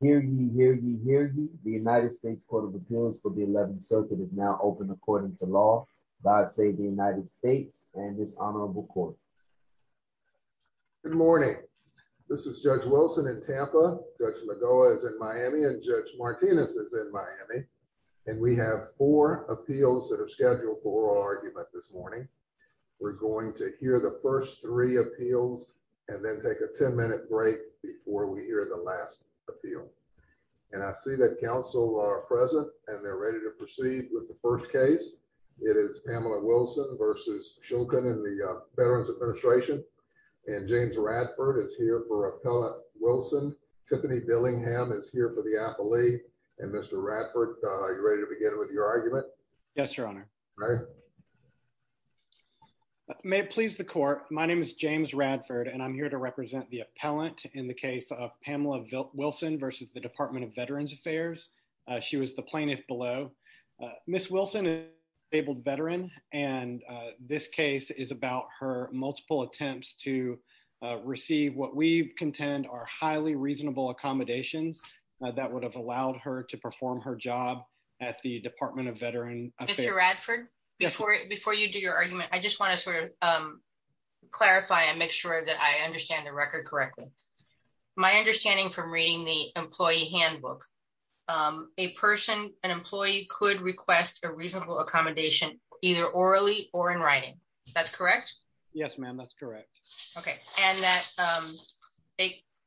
Hear ye, hear ye, hear ye. The United States Court of Appeals for the 11th Circuit is now open according to law. God save the United States and this honorable court. Good morning. This is Judge Wilson in Tampa. Judge Lagoa is in Miami and Judge Martinez is in Miami and we have four appeals that are scheduled for oral argument this morning. We're going to hear the first three appeals and then take a 10-minute break before we hear the appeal. And I see that counsel are present and they're ready to proceed with the first case. It is Pamela Wilson v. Shulkin in the Veterans Administration. And James Radford is here for appellate Wilson. Tiffany Dillingham is here for the appellee. And Mr. Radford, are you ready to begin with your argument? Yes, your honor. May it please the court. My name is James Radford and I'm here to represent the appellant in the case of Pamela Wilson v. The Department of Veterans Affairs. She was the plaintiff below. Ms. Wilson is a disabled veteran and this case is about her multiple attempts to receive what we contend are highly reasonable accommodations that would have allowed her to perform her job at the Department of Veterans Affairs. Mr. Radford, before you do your argument, I just want to clarify and make sure that I understand the record correctly. My understanding from reading the employee handbook, a person, an employee could request a reasonable accommodation either orally or in writing. That's correct? Yes, ma'am. That's correct. Okay. And that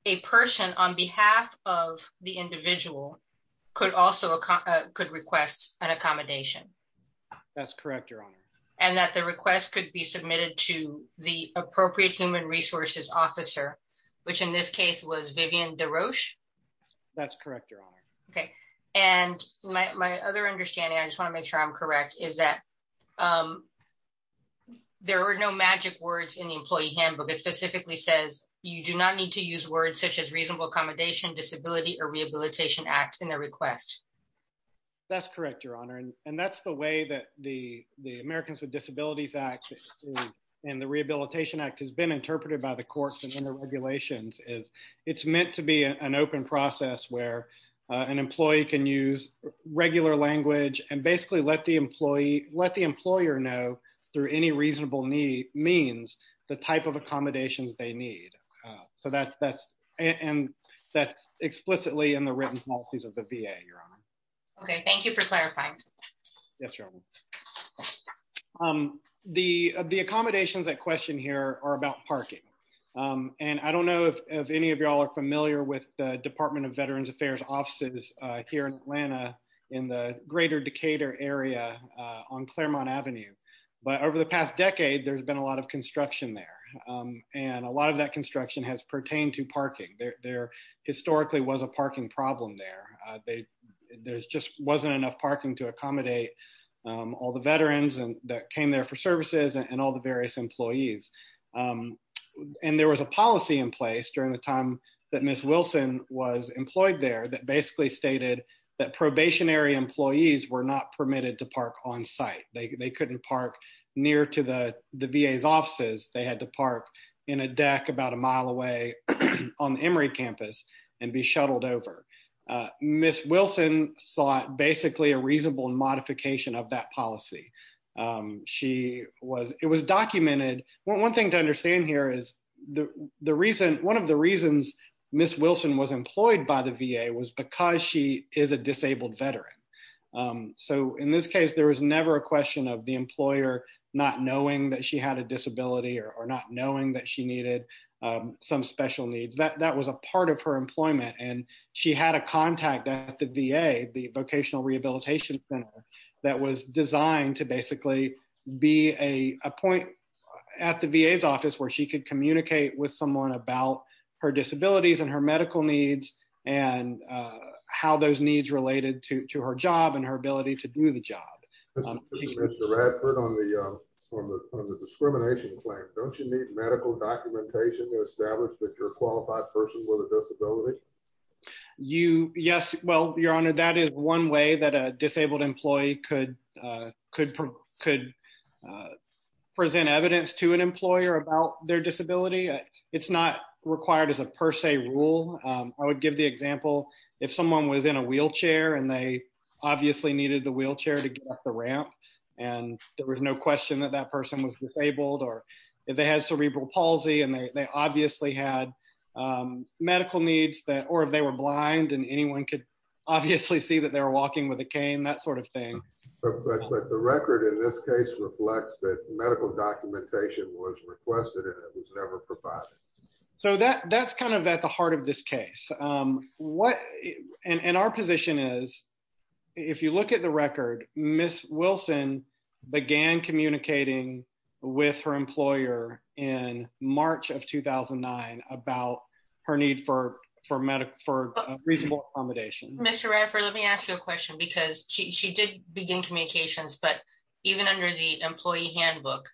a person on behalf of the individual could also request an accommodation. That's correct, your honor. And that the request could be submitted to the appropriate human resources officer, which in this case was Vivian DeRoche. That's correct, your honor. Okay. And my other understanding, I just want to make sure I'm correct, is that there are no magic words in the employee handbook. It specifically says you do not need to use words such as reasonable accommodation, disability, or rehabilitation act in the request. That's correct, your honor. And that's the way that the Americans with Disabilities Act and the Rehabilitation Act has been interpreted by the courts and in the regulations is it's meant to be an open process where an employee can use regular language and basically let the employee, let the employer know through any reasonable means the type of accommodations they need. So that's, and that's explicitly in the written policies of the VA, your honor. Okay. Thank you for clarifying. Yes, your honor. The accommodations that question here are about parking. And I don't know if any of y'all are familiar with the Department of Veterans Affairs offices here in Atlanta in the greater Decatur area on Claremont Avenue. But over the past decade, there's been a lot of construction there. And a lot of that construction has pertained to parking. There historically was a parking problem there. There just wasn't enough parking to accommodate all the veterans and that came there for services and all the various employees. And there was a policy in place during the time that Ms. Wilson was employed there that basically stated that probationary employees were not permitted to park on site. They couldn't park near to the VA's offices. They had to park in a deck about a mile away on the Emory campus and be shuttled over. Ms. Wilson sought basically a reasonable modification of that policy. She was, it was documented. One thing to understand here is the reason, one of the reasons Ms. Wilson was employed by the VA was because she is a disabled veteran. So in this case, there was never a question of the employer not knowing that she had a disability or not knowing that she needed some special needs. That was a part of her employment. And she had a contact at the VA, the Vocational Rehabilitation Center, that was designed to basically be a point at the VA's office where she could communicate with someone about her disabilities and her medical needs and how those needs related to her job and her ability to do the job. Mr. Radford, on the discrimination claim, don't you need medical documentation to establish that you're a qualified person with a disability? You, yes, well, Your Honor, that is one way that a disabled employee could present evidence to an employer about their disability. It's not required as a per se rule. I would give the example, if someone was in a wheelchair and they obviously needed the wheelchair to get up the ramp, and there was no question that that person was disabled, or if they had cerebral palsy, and they obviously had medical needs, or if they were blind and anyone could obviously see that they were walking with a cane, that sort of thing. But the record in this case reflects that medical documentation was requested and it was never provided. So that's kind of at the heart of this case. And our position is, if you look at the record, Ms. Wilson began communicating with her employer in March of 2009 about her need for reasonable accommodation. Mr. Radford, let me ask you a question because she did begin communications, but even under the employee handbook,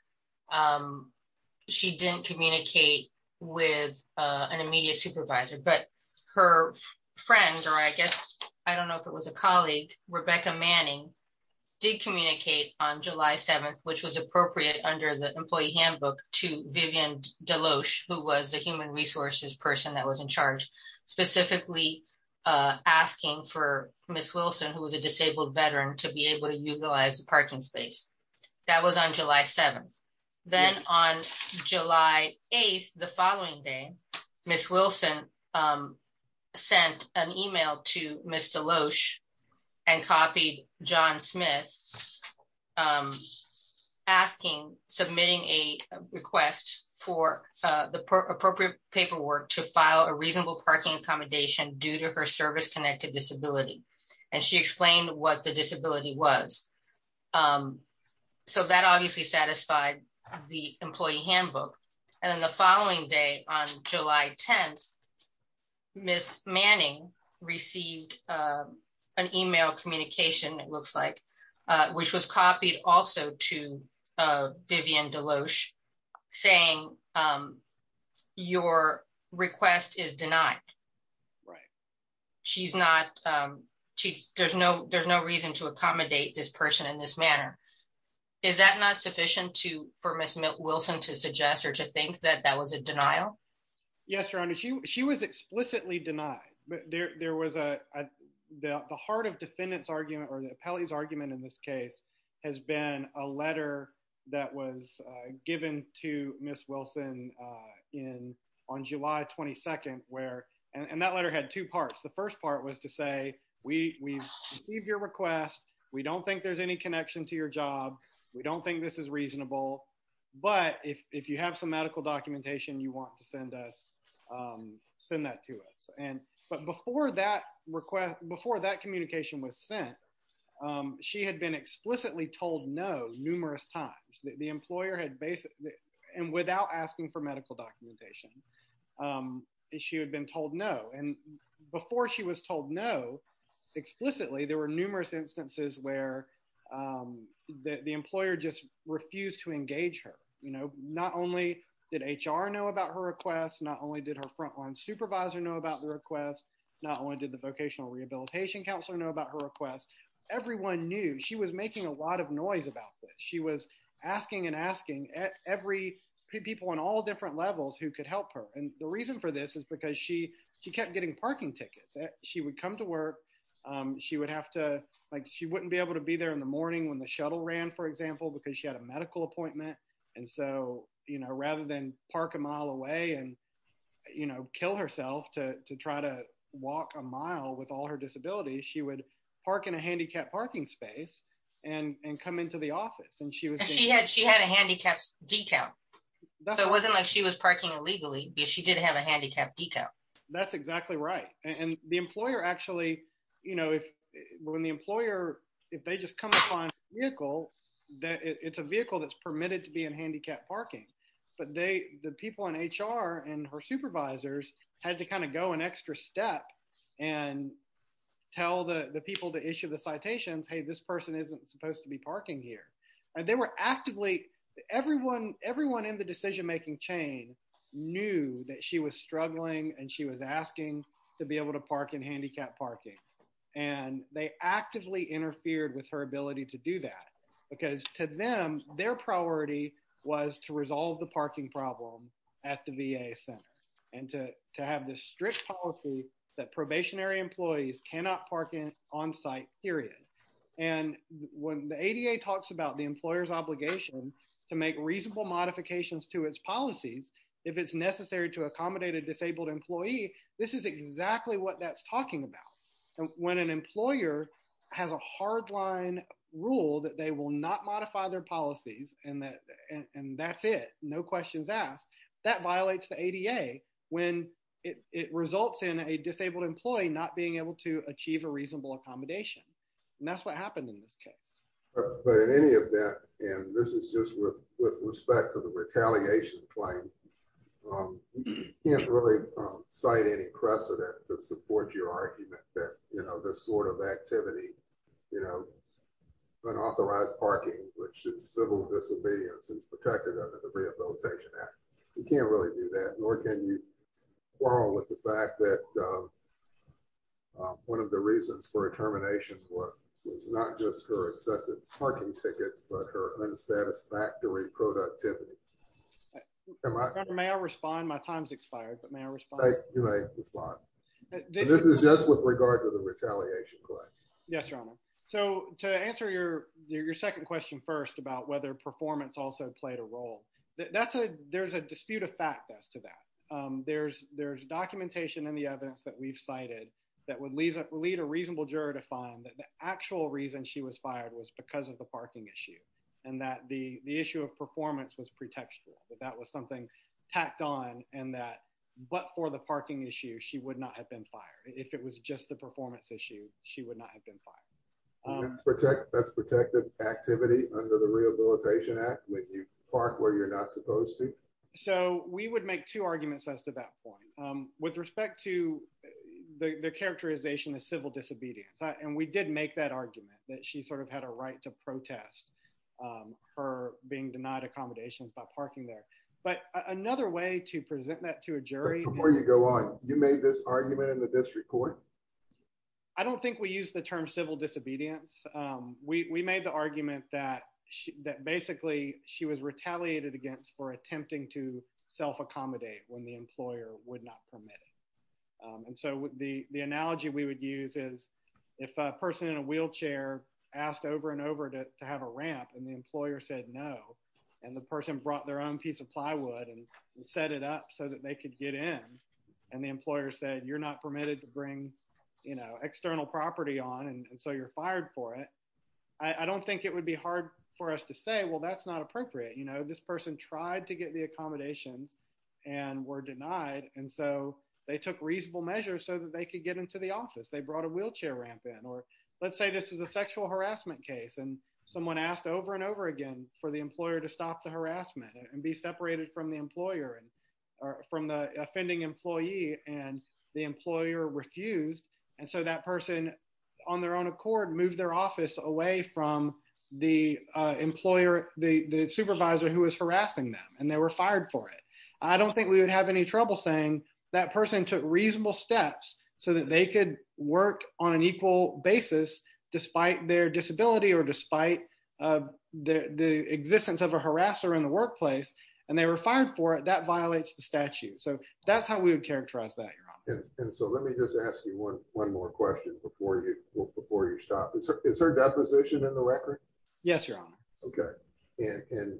she didn't communicate with an immediate supervisor, but her friend, or I guess, I don't know if it was a colleague, Rebecca Manning, did communicate on July 7th, which was appropriate under the employee handbook, to Vivian Deloche, who was a human resources person that was in charge, specifically asking for Ms. Wilson, who was a disabled veteran, to be able to utilize the parking space. That was on July 7th. Then on July 8th, the following day, Ms. Wilson sent an email to Ms. Deloche and copied John Smith submitting a request for the appropriate paperwork to file a reasonable parking accommodation due to her service-connected disability. And she explained what the disability was. So that obviously satisfied the employee handbook. And then the an email communication, it looks like, which was copied also to Vivian Deloche saying, your request is denied. Right. There's no reason to accommodate this person in this manner. Is that not sufficient for Ms. Wilson to suggest or to think that that was a denial? Yes, Your Honor. She was explicitly denied. The heart of defendant's argument or the appellee's argument in this case has been a letter that was given to Ms. Wilson on July 22nd. And that letter had two parts. The first part was to say, we've received your request. We don't think there's any connection to your job. We don't think this is reasonable. But if you have some questions, please feel free to send that to us. But before that communication was sent, she had been explicitly told no numerous times. The employer had basically, and without asking for medical documentation, she had been told no. And before she was told no, explicitly, there were numerous instances where the employer just refused to engage her. Not only did HR know about her request, not only did her frontline supervisor know about the request, not only did the vocational rehabilitation counselor know about her request, everyone knew. She was making a lot of noise about this. She was asking and asking every people on all different levels who could help her. And the reason for this is because she kept getting parking tickets. She would come to work. She wouldn't be able to be there in the morning when the shuttle ran, for example, because she had a medical appointment. And so, you know, rather than park a mile away and, you know, kill herself to try to walk a mile with all her disabilities, she would park in a handicapped parking space and come into the office. And she had a handicapped decal. So it wasn't like she was parking illegally, but she did have a handicapped decal. That's exactly right. And the employer actually, you know, when the employer, if they just come on vehicle that it's a vehicle that's permitted to be in handicapped parking, but they, the people in HR and her supervisors had to kind of go an extra step and tell the people to issue the citations. Hey, this person isn't supposed to be parking here. And they were actively everyone, everyone in the decision-making chain knew that she was struggling and she was asking to be able to park in handicapped parking. And they actively interfered with her ability to do that because to them, their priority was to resolve the parking problem at the VA center and to have this strict policy that probationary employees cannot park in on-site period. And when the ADA talks about the employer's obligation to make reasonable modifications to its policies, if it's necessary to accommodate a disabled employee, this is exactly what that's talking about. And when an employer has a hard line rule that they will not modify their policies and that, and that's it, no questions asked, that violates the ADA when it, it results in a disabled employee, not being able to achieve a reasonable accommodation. And that's what happened in this case. But in any event, and this is just with respect to the retaliation claim, you can't really cite any precedent to support your argument that, you know, this sort of activity, you know, unauthorized parking, which is civil disobedience is protected under the Rehabilitation Act. You can't really do that, nor can you quarrel with the fact that one of the reasons for a dissatisfactory productivity. May I respond? My time's expired, but may I respond? You may respond. This is just with regard to the retaliation claim. Yes, Your Honor. So to answer your, your second question first about whether performance also played a role, that's a, there's a dispute of fact as to that. There's, there's documentation in the evidence that we've cited that would lead a reasonable juror to find that the actual reason was fired was because of the parking issue. And that the issue of performance was pretextual, that that was something tacked on and that, but for the parking issue, she would not have been fired. If it was just the performance issue, she would not have been fired. That's protected activity under the Rehabilitation Act when you park where you're not supposed to. So we would make two arguments as to that point. With respect to the characterization of civil disobedience. And we did make that argument that she sort of had a right to protest her being denied accommodations by parking there. But another way to present that to a jury. Before you go on, you made this argument in the district court? I don't think we use the term civil disobedience. We made the argument that she, that basically she was retaliated against for attempting to self-accommodate when the employer would not permit it. And so the, the analogy we would use is if a person in a wheelchair asked over and over to have a ramp and the employer said no, and the person brought their own piece of plywood and set it up so that they could get in. And the employer said, you're not permitted to bring, you know, external property on. And so you're fired for it. I don't think it would be hard for us to say, well, that's not appropriate. You know, this person tried to get the accommodations and were denied. And so they took reasonable measures so that they could get into the office. They brought a wheelchair ramp in, or let's say this was a sexual harassment case. And someone asked over and over again for the employer to stop the harassment and be separated from the employer and from the offending employee and the employer refused. And so that person on their own accord, moved their office away from the employer, the supervisor who was harassing them and they were I don't think we would have any trouble saying that person took reasonable steps so that they could work on an equal basis, despite their disability or despite the existence of a harasser in the workplace, and they were fired for it, that violates the statute. So that's how we would characterize that. And so let me just ask you one, one more question before you before you stop. Is her deposition in the record? Yes, Your Honor. Okay. And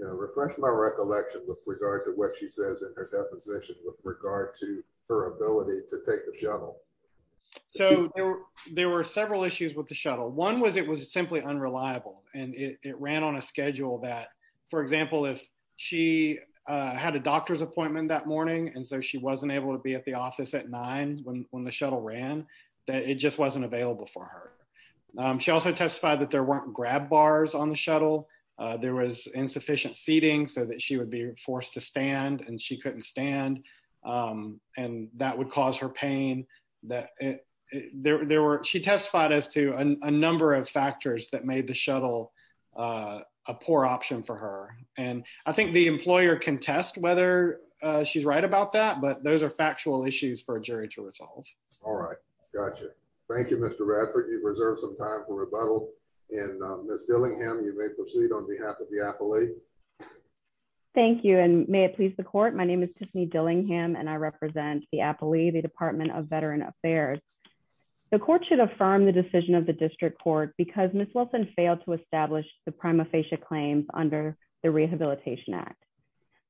refresh my recollection with regard to what she says in her deposition with regard to her ability to take the shuttle. So there were several issues with the shuttle. One was it was simply unreliable, and it ran on a schedule that, for example, if she had a doctor's appointment that morning, and so she wasn't able to be at the office at nine when the shuttle ran, that it just wasn't available for her. She also testified that there weren't grab bars on the shuttle. There was force to stand and she couldn't stand. And that would cause her pain that there were she testified as to a number of factors that made the shuttle a poor option for her. And I think the employer can test whether she's right about that. But those are factual issues for a jury to resolve. All right. Gotcha. Thank you, Mr. Radford. You've reserved some time for rebuttal. And Ms. Dillingham, you may proceed on behalf of the appellee. Thank you, and may it please the court. My name is Tiffany Dillingham, and I represent the appellee, the Department of Veteran Affairs. The court should affirm the decision of the district court because Ms. Wilson failed to establish the prima facie claims under the Rehabilitation Act.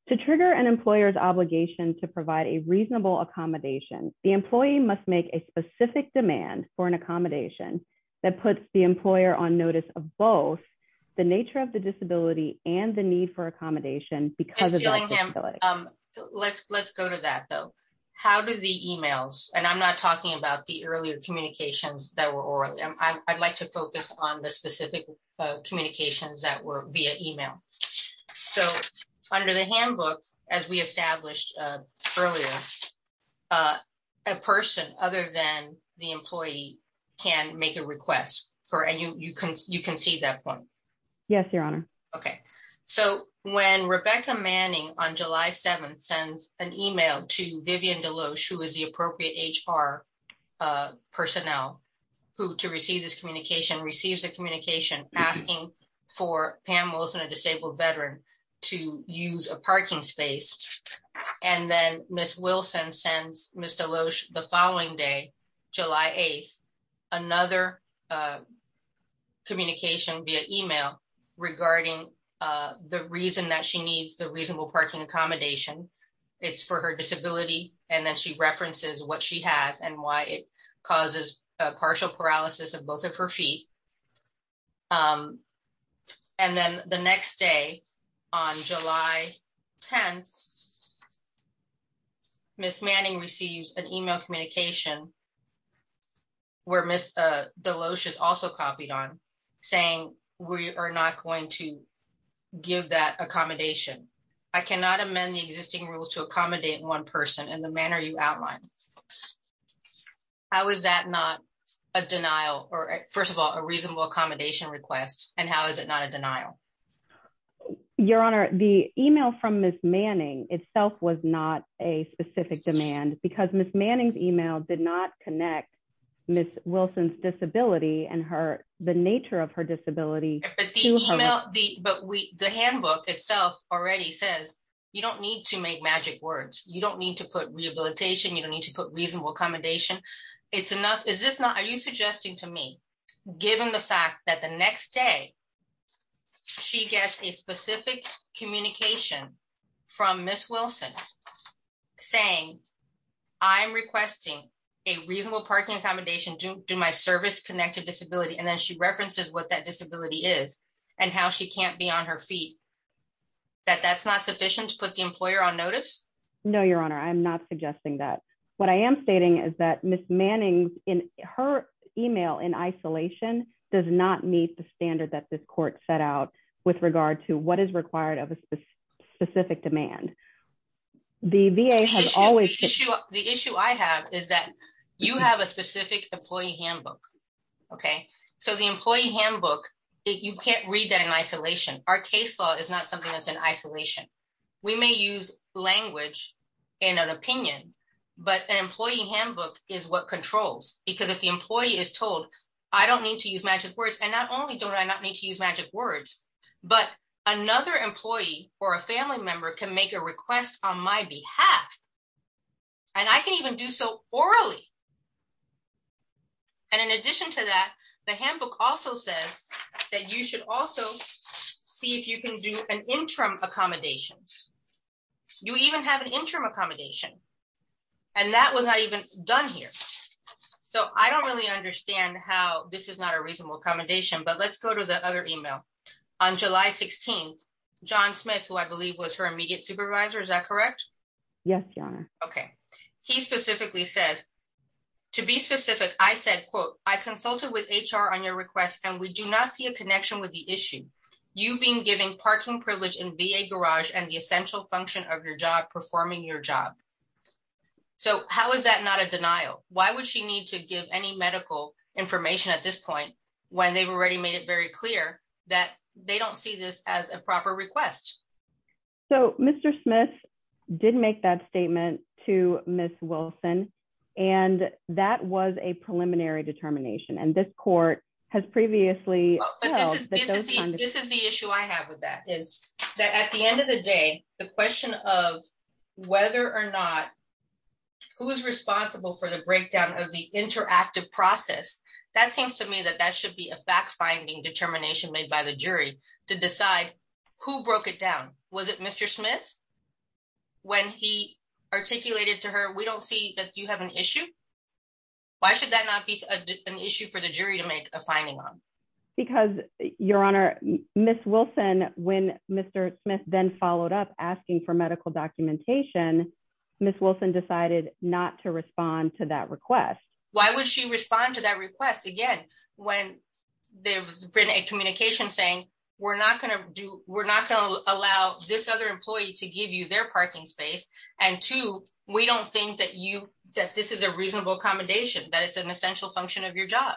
To trigger an employer's obligation to provide a reasonable accommodation, the employee must make a specific demand for an accommodation that puts the employer on notice of both the nature of the disability and the need for accommodation because of the disability. Ms. Dillingham, let's go to that though. How do the emails, and I'm not talking about the earlier communications that were oral. I'd like to focus on the specific communications that were via email. So under the handbook, as we established earlier, a person other than the employee can make a request, correct? And you concede that point? Yes, Your Honor. Okay. So when Rebecca Manning on July 7th sends an email to Vivian Deloche, who is the appropriate HR personnel to receive this parking space, and then Ms. Wilson sends Ms. Deloche the following day, July 8th, another communication via email regarding the reason that she needs the reasonable parking accommodation. It's for her disability, and then she references what she has and why it causes a partial paralysis of both of her feet. And then the next day on July 10th, Ms. Manning receives an email communication where Ms. Deloche is also copied on saying, we are not going to give that accommodation. I cannot amend the existing rules to accommodate one person in the manner you outlined. How is that not a denial or first of all, a reasonable accommodation request? And how is it not a denial? Your Honor, the email from Ms. Manning itself was not a specific demand because Ms. Manning's email did not connect Ms. Wilson's disability and the nature of her disability. But the handbook itself already says, you don't need to make magic words. You don't need to put rehabilitation. You don't need to put reasonable accommodation. It's enough. Is this not, are you suggesting to me, given the fact that the next day she gets a specific communication from Ms. Wilson saying, I'm requesting a reasonable parking accommodation due to my service-connected disability. And then she references what that disability is and how she can't be on her feet, that that's not sufficient to put the employer on notice? No, Your Honor. I'm not suggesting that. What I am stating is that Ms. Manning in her email in isolation does not meet the standard that this court set out with regard to what is required of a specific demand. The VA has always. The issue I have is that you have a specific employee handbook. Okay. So the employee handbook, you can't read that in isolation. Our case law is not something that's in isolation. We may use language in an opinion, but an employee handbook is what controls. Because if the employee is told, I don't need to use magic words. And not only don't I not need to use magic words, but another employee or a family member can make a request on my behalf. And I can even do so you should also see if you can do an interim accommodation. You even have an interim accommodation. And that was not even done here. So I don't really understand how this is not a reasonable accommodation, but let's go to the other email. On July 16th, John Smith, who I believe was her immediate supervisor, is that correct? Yes, Your Honor. Okay. He specifically says, to be specific, I said, quote, I consulted with HR on your request, and we do not see a connection with the issue. You've been given parking privilege in VA garage and the essential function of your job performing your job. So how is that not a denial? Why would she need to give any medical information at this point, when they've already made it very clear that they don't see this as a proper request? So Mr. Smith, didn't make that statement to Miss Wilson. And that was a preliminary determination. And this court has previously. This is the issue I have with that is that at the end of the day, the question of whether or not who is responsible for the breakdown of the interactive process, that seems to me that that should be a fact finding determination made by the jury to decide who broke it down. Was it Mr. Smith? When he articulated to her, we don't see that you have an issue. Why should that not be an issue for the jury to make a finding on? Because Your Honor, Miss Wilson, when Mr. Smith then followed up asking for medical documentation, Miss Wilson decided not to respond to that request. Why would she respond to that request? Again, when there was a communication saying, we're not going to do we're not going to allow this other employee to give you their parking space. And two, we don't think that you that this is a reasonable accommodation, that it's an essential function of your job.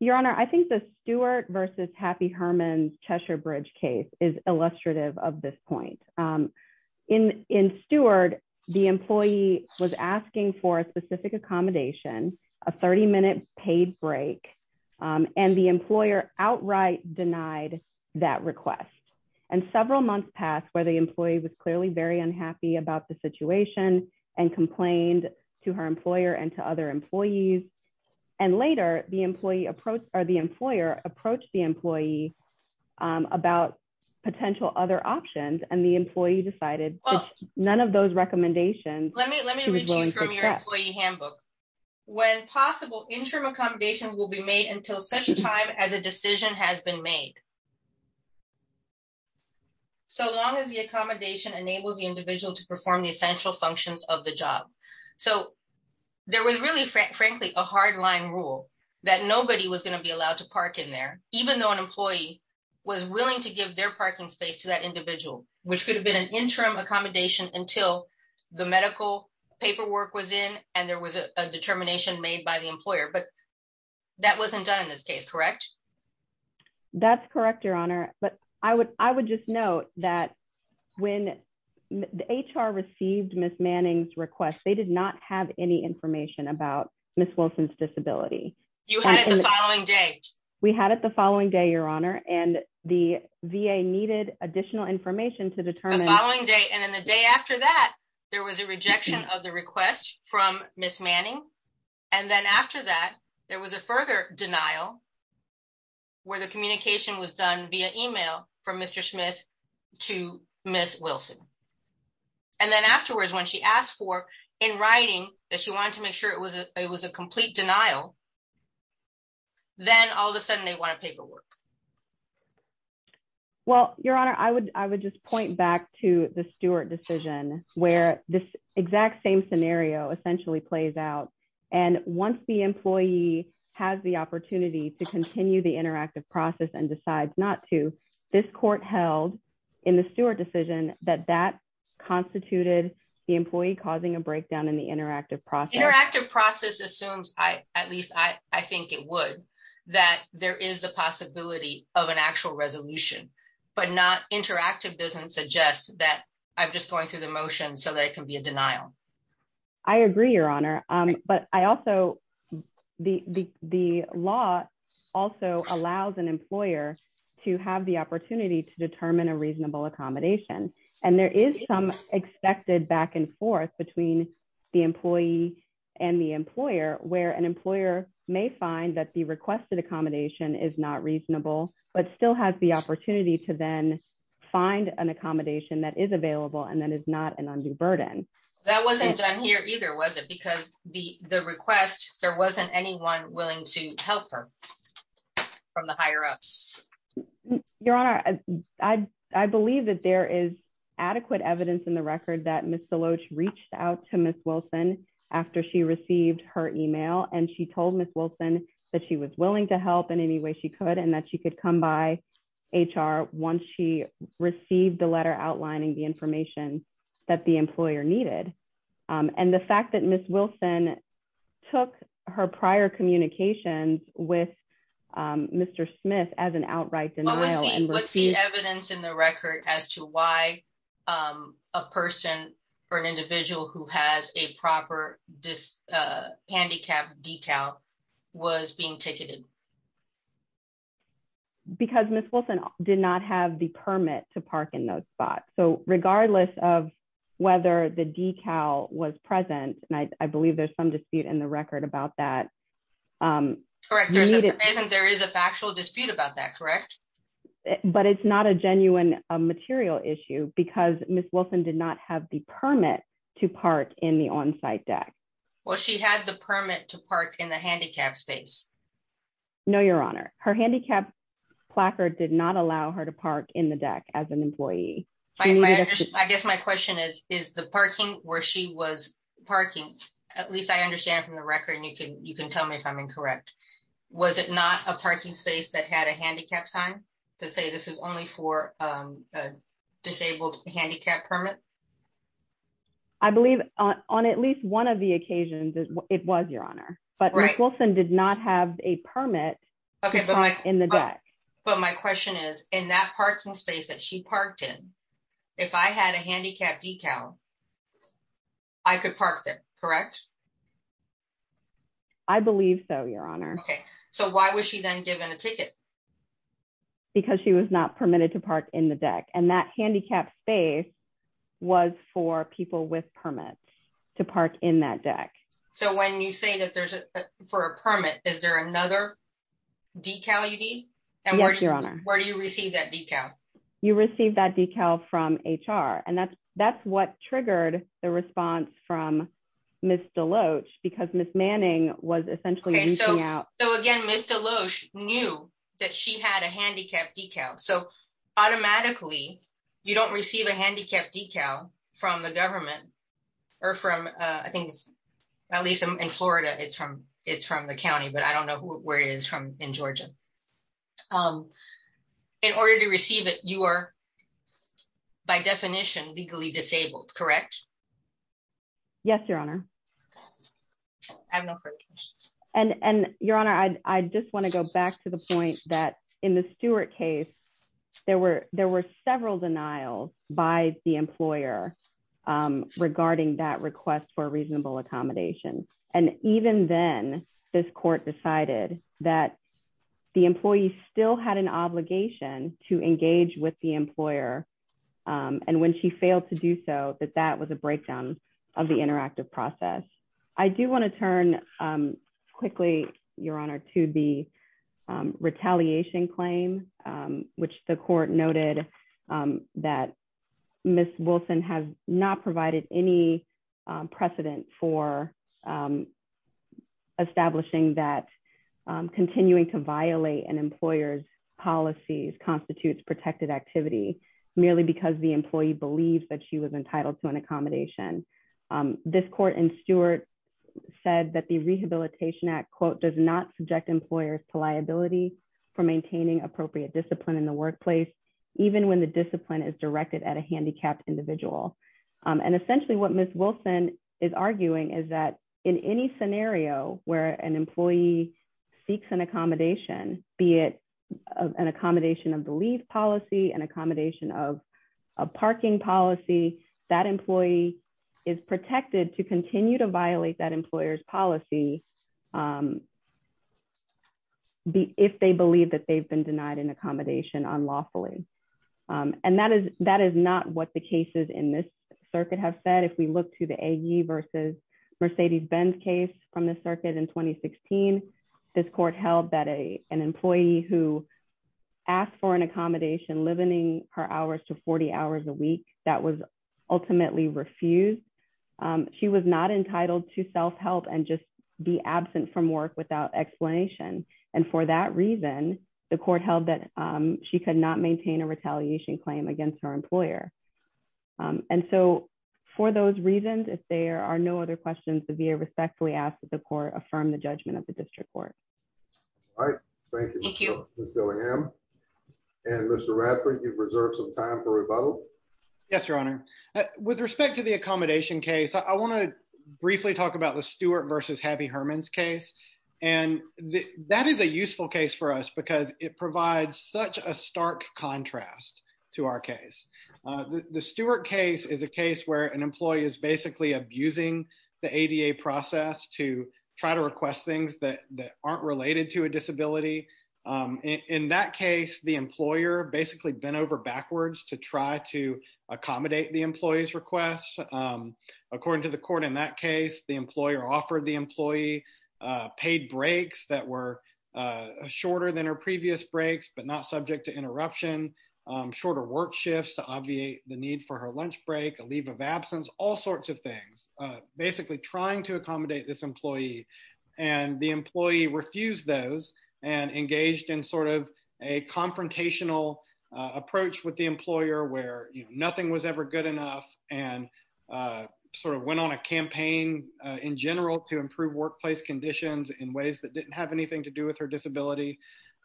Your Honor, I think the Stewart versus Happy Herman Cheshire Bridge case is illustrative of this point. In in Stewart, the employee was asking for a specific accommodation, a 30 minute paid break, and the employer outright denied that request. And several months passed where the employee was clearly very unhappy about the situation and complained to her employer and to other employees. And later, the employee approached or the employer approached the employee about potential other options and the employee decided none of those recommendations. Let me let me read from your employee handbook. When possible, interim accommodation will be made until such time as a decision has been made. So long as the accommodation enables the individual to perform the essential functions of the job. So there was really frankly, a hard line rule that nobody was going to be allowed to park in there, even though an employee was willing to give their parking space to that individual, which could have been an interim accommodation until the medical paperwork was in and there was a determination made by the employer. But that wasn't done in this case, correct? That's correct, Your Honor. But I would I would just note that when the HR received Ms. Manning's request, they did not have any information about Ms. Wilson's disability. You had it the following day. We had it the following day, Your Honor, and the VA needed additional information to determine the following day. And then the day after that, there was a rejection of the request from Ms. Manning. And then after that, there was a further denial where the communication was done via email from Mr. Smith to Ms. Wilson. And then afterwards, when she asked for in writing that it was a complete denial. Then all of a sudden they want a paperwork. Well, Your Honor, I would I would just point back to the Stewart decision where this exact same scenario essentially plays out. And once the employee has the opportunity to continue the interactive process and decides not to, this court held in the Stewart decision that that interactive process assumes, I at least I think it would, that there is the possibility of an actual resolution, but not interactive doesn't suggest that I'm just going through the motion so that it can be a denial. I agree, Your Honor. But I also the the law also allows an employer to have the opportunity to determine a reasonable accommodation. And there is some expected back and forth between the employee and the employer where an employer may find that the requested accommodation is not reasonable, but still has the opportunity to then find an accommodation that is available and then it's not an undue burden. That wasn't done here either, was it? Because the the request, there wasn't anyone willing to help her from the higher ups. Your Honor, I, I believe that there is adequate evidence in the record that Ms. Deloach reached out to Ms. Wilson after she received her email and she told Ms. Wilson that she was willing to help in any way she could and that she could come by HR once she received the letter outlining the information that the employer needed. And the fact that Ms. Wilson took her prior communications with Mr. Smith as an outright denial. What's the evidence in the record as to why a person or an individual who has a proper handicap decal was being ticketed? Because Ms. Wilson did not have the permit to park in those spots. So regardless of whether the decal was present, and I believe there's some dispute in the record about that, correct? There isn't, there is a factual dispute about that, correct? But it's not a genuine material issue because Ms. Wilson did not have the permit to park in the on-site deck. Well, she had the permit to park in the handicap space. No, Your Honor, her handicap placard did not allow her to park in the deck as an employee. I guess my question is, is the parking where she was parking, at least I understand from the was it not a parking space that had a handicap sign to say this is only for a disabled handicap permit? I believe on at least one of the occasions it was, Your Honor. But Ms. Wilson did not have a permit in the deck. But my question is, in that parking space that she parked in, if I had a handicap decal, I could park there, correct? I believe so, Your Honor. Okay, so why was she then given a ticket? Because she was not permitted to park in the deck. And that handicap space was for people with permits to park in that deck. So when you say that there's a, for a permit, is there another decal you need? Yes, Your Honor. And where do you receive that decal? You receive that decal from HR. And that's, that's what triggered the response from Ms. Deloach, because Ms. Manning was essentially reaching out. So again, Ms. Deloach knew that she had a handicap decal. So automatically, you don't receive a handicap decal from the government, or from I think, at least in Florida, it's from it's from the county, but I don't know where it is from in Georgia. In order to receive it, you are, by definition, legally disabled, correct? Yes, Your Honor. I have no further questions. And Your Honor, I just want to go back to the point that in the Stewart case, there were several denials by the employer regarding that request for court decided that the employee still had an obligation to engage with the employer. And when she failed to do so, that that was a breakdown of the interactive process. I do want to turn quickly, Your Honor to the retaliation claim, which the court noted that Ms. Wilson has not provided any precedent for establishing that continuing to violate an employer's policies constitutes protected activity, merely because the employee believes that she was entitled to an accommodation. This court in Stewart said that the Rehabilitation Act, quote, does not subject employers to liability for maintaining appropriate discipline in the workplace, even when the discipline is directed at a handicapped individual. And essentially, what Ms. Wilson is arguing is that in any scenario where an employee seeks an accommodation, be it an accommodation of the leave policy and accommodation of a parking policy, that employee is protected to continue to violate that employer's policy. But if they believe that they've been denied an accommodation unlawfully, and that is that is not what the cases in this circuit have said, if we look to the A.E. versus Mercedes Benz case from the circuit in 2016, this court held that a an employee who asked for an accommodation, limiting her hours to 40 hours a week, that was ultimately refused. She was not entitled to self help and just be absent from work without explanation. And for that reason, the court held that she could not maintain a retaliation claim against her employer. And so for those reasons, if there are no other questions, the VA respectfully asked that the court affirm the judgment of the district court. All right. Thank you. And Mr. Radford, you've reserved some time for rebuttal. Yes, Your Honor. With respect to the accommodation case, I want to briefly talk about the Stewart versus Herman's case. And that is a useful case for us because it provides such a stark contrast to our case. The Stewart case is a case where an employee is basically abusing the ADA process to try to request things that aren't related to a disability. In that case, the employer basically bent over backwards to try to accommodate the employee's request. According to the court in that case, the employer offered the employee paid breaks that were shorter than her previous breaks, but not subject to interruption, shorter work shifts to obviate the need for her lunch break, a leave of absence, all sorts of and engaged in sort of a confrontational approach with the employer where nothing was ever good enough and sort of went on a campaign in general to improve workplace conditions in ways that didn't have anything to do with her disability.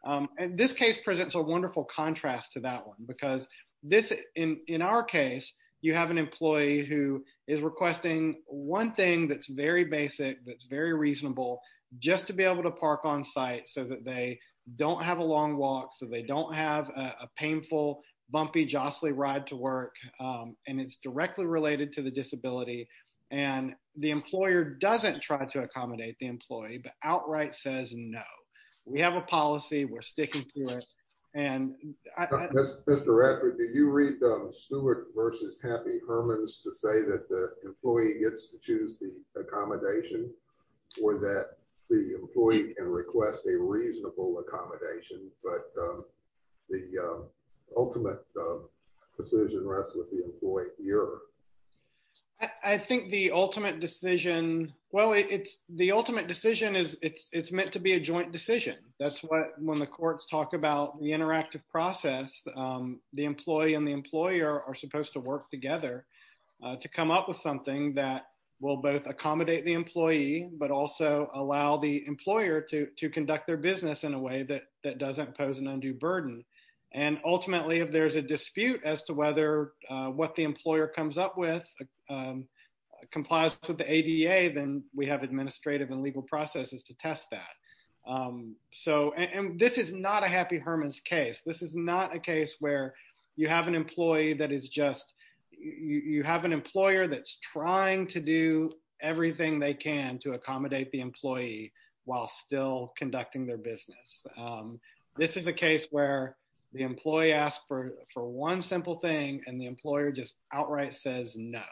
And this case presents a wonderful contrast to that one because this in our case, you have an employee who is requesting one thing that's very reasonable, just to be able to park on site so that they don't have a long walk, so they don't have a painful, bumpy, jostly ride to work. And it's directly related to the disability. And the employer doesn't try to accommodate the employee, but outright says no, we have a policy, we're sticking to it. And I- Mr. Radford, did you read the Stewart versus Herman's to say that the employee has to choose the accommodation or that the employee can request a reasonable accommodation, but the ultimate decision rests with the employee here? I think the ultimate decision, well, it's the ultimate decision is it's meant to be a joint decision. That's what when the courts talk about the interactive process, the employee and the employer are supposed to work together to come up with something that will both accommodate the employee, but also allow the employer to conduct their business in a way that doesn't pose an undue burden. And ultimately, if there's a dispute as to whether what the employer comes up with complies with the ADA, then we have administrative and legal processes to test that. And this is not a happy Herman's case. This is not a case where you have an employee that is just, you have an employer that's trying to do everything they can to accommodate the employee while still conducting their business. This is a case where the employee asked for one simple thing and the employer just outright says no.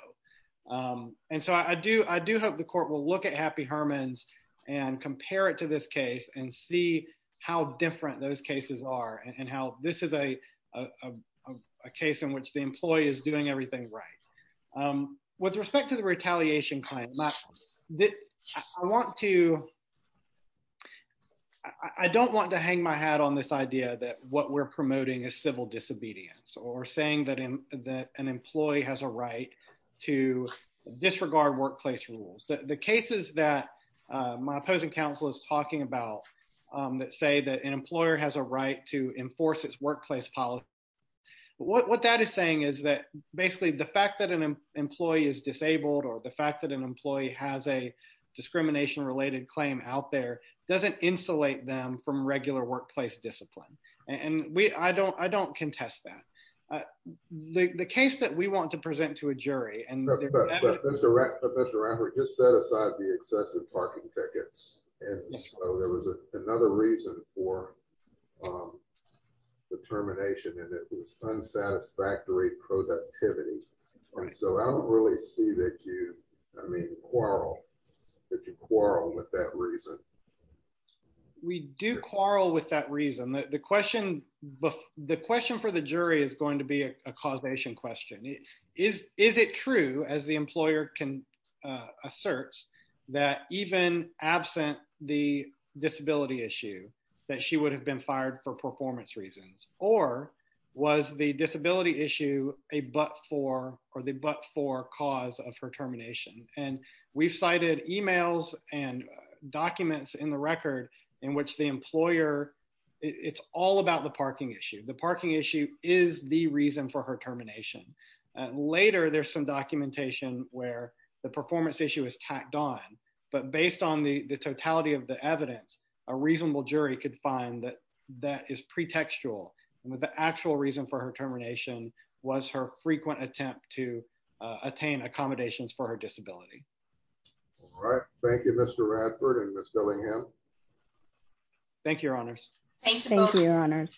And so I do hope the court will look at happy Herman's and compare it to this case and see how different those cases are and how this is a case in which the employee is doing everything right. With respect to the retaliation claim, I want to, I don't want to hang my hat on this idea that what we're promoting is civil disobedience or saying that an employee has a employer has a right to enforce its workplace policy. But what that is saying is that basically the fact that an employee is disabled or the fact that an employee has a discrimination-related claim out there doesn't insulate them from regular workplace discipline. And we, I don't, I don't contest that. The case that we want to present to a jury and Mr. Ratner just set aside the excessive parking tickets. And so there was another reason for the termination and it was unsatisfactory productivity. And so I don't really see that you, I mean, quarrel, that you quarrel with that reason. We do quarrel with that reason. The question, the question for the jury is going to be a causation question. Is, is it true as the that even absent the disability issue that she would have been fired for performance reasons, or was the disability issue a, but for, or the, but for cause of her termination. And we've cited emails and documents in the record in which the employer, it's all about the parking issue. The parking issue is the reason for her termination. And later there's some documentation where the performance issue is tacked on, but based on the totality of the evidence, a reasonable jury could find that that is pretextual. And with the actual reason for her termination was her frequent attempt to attain accommodations for her disability. All right. Thank you, Mr. Radford and Ms. Dillingham. Thank you, your honors.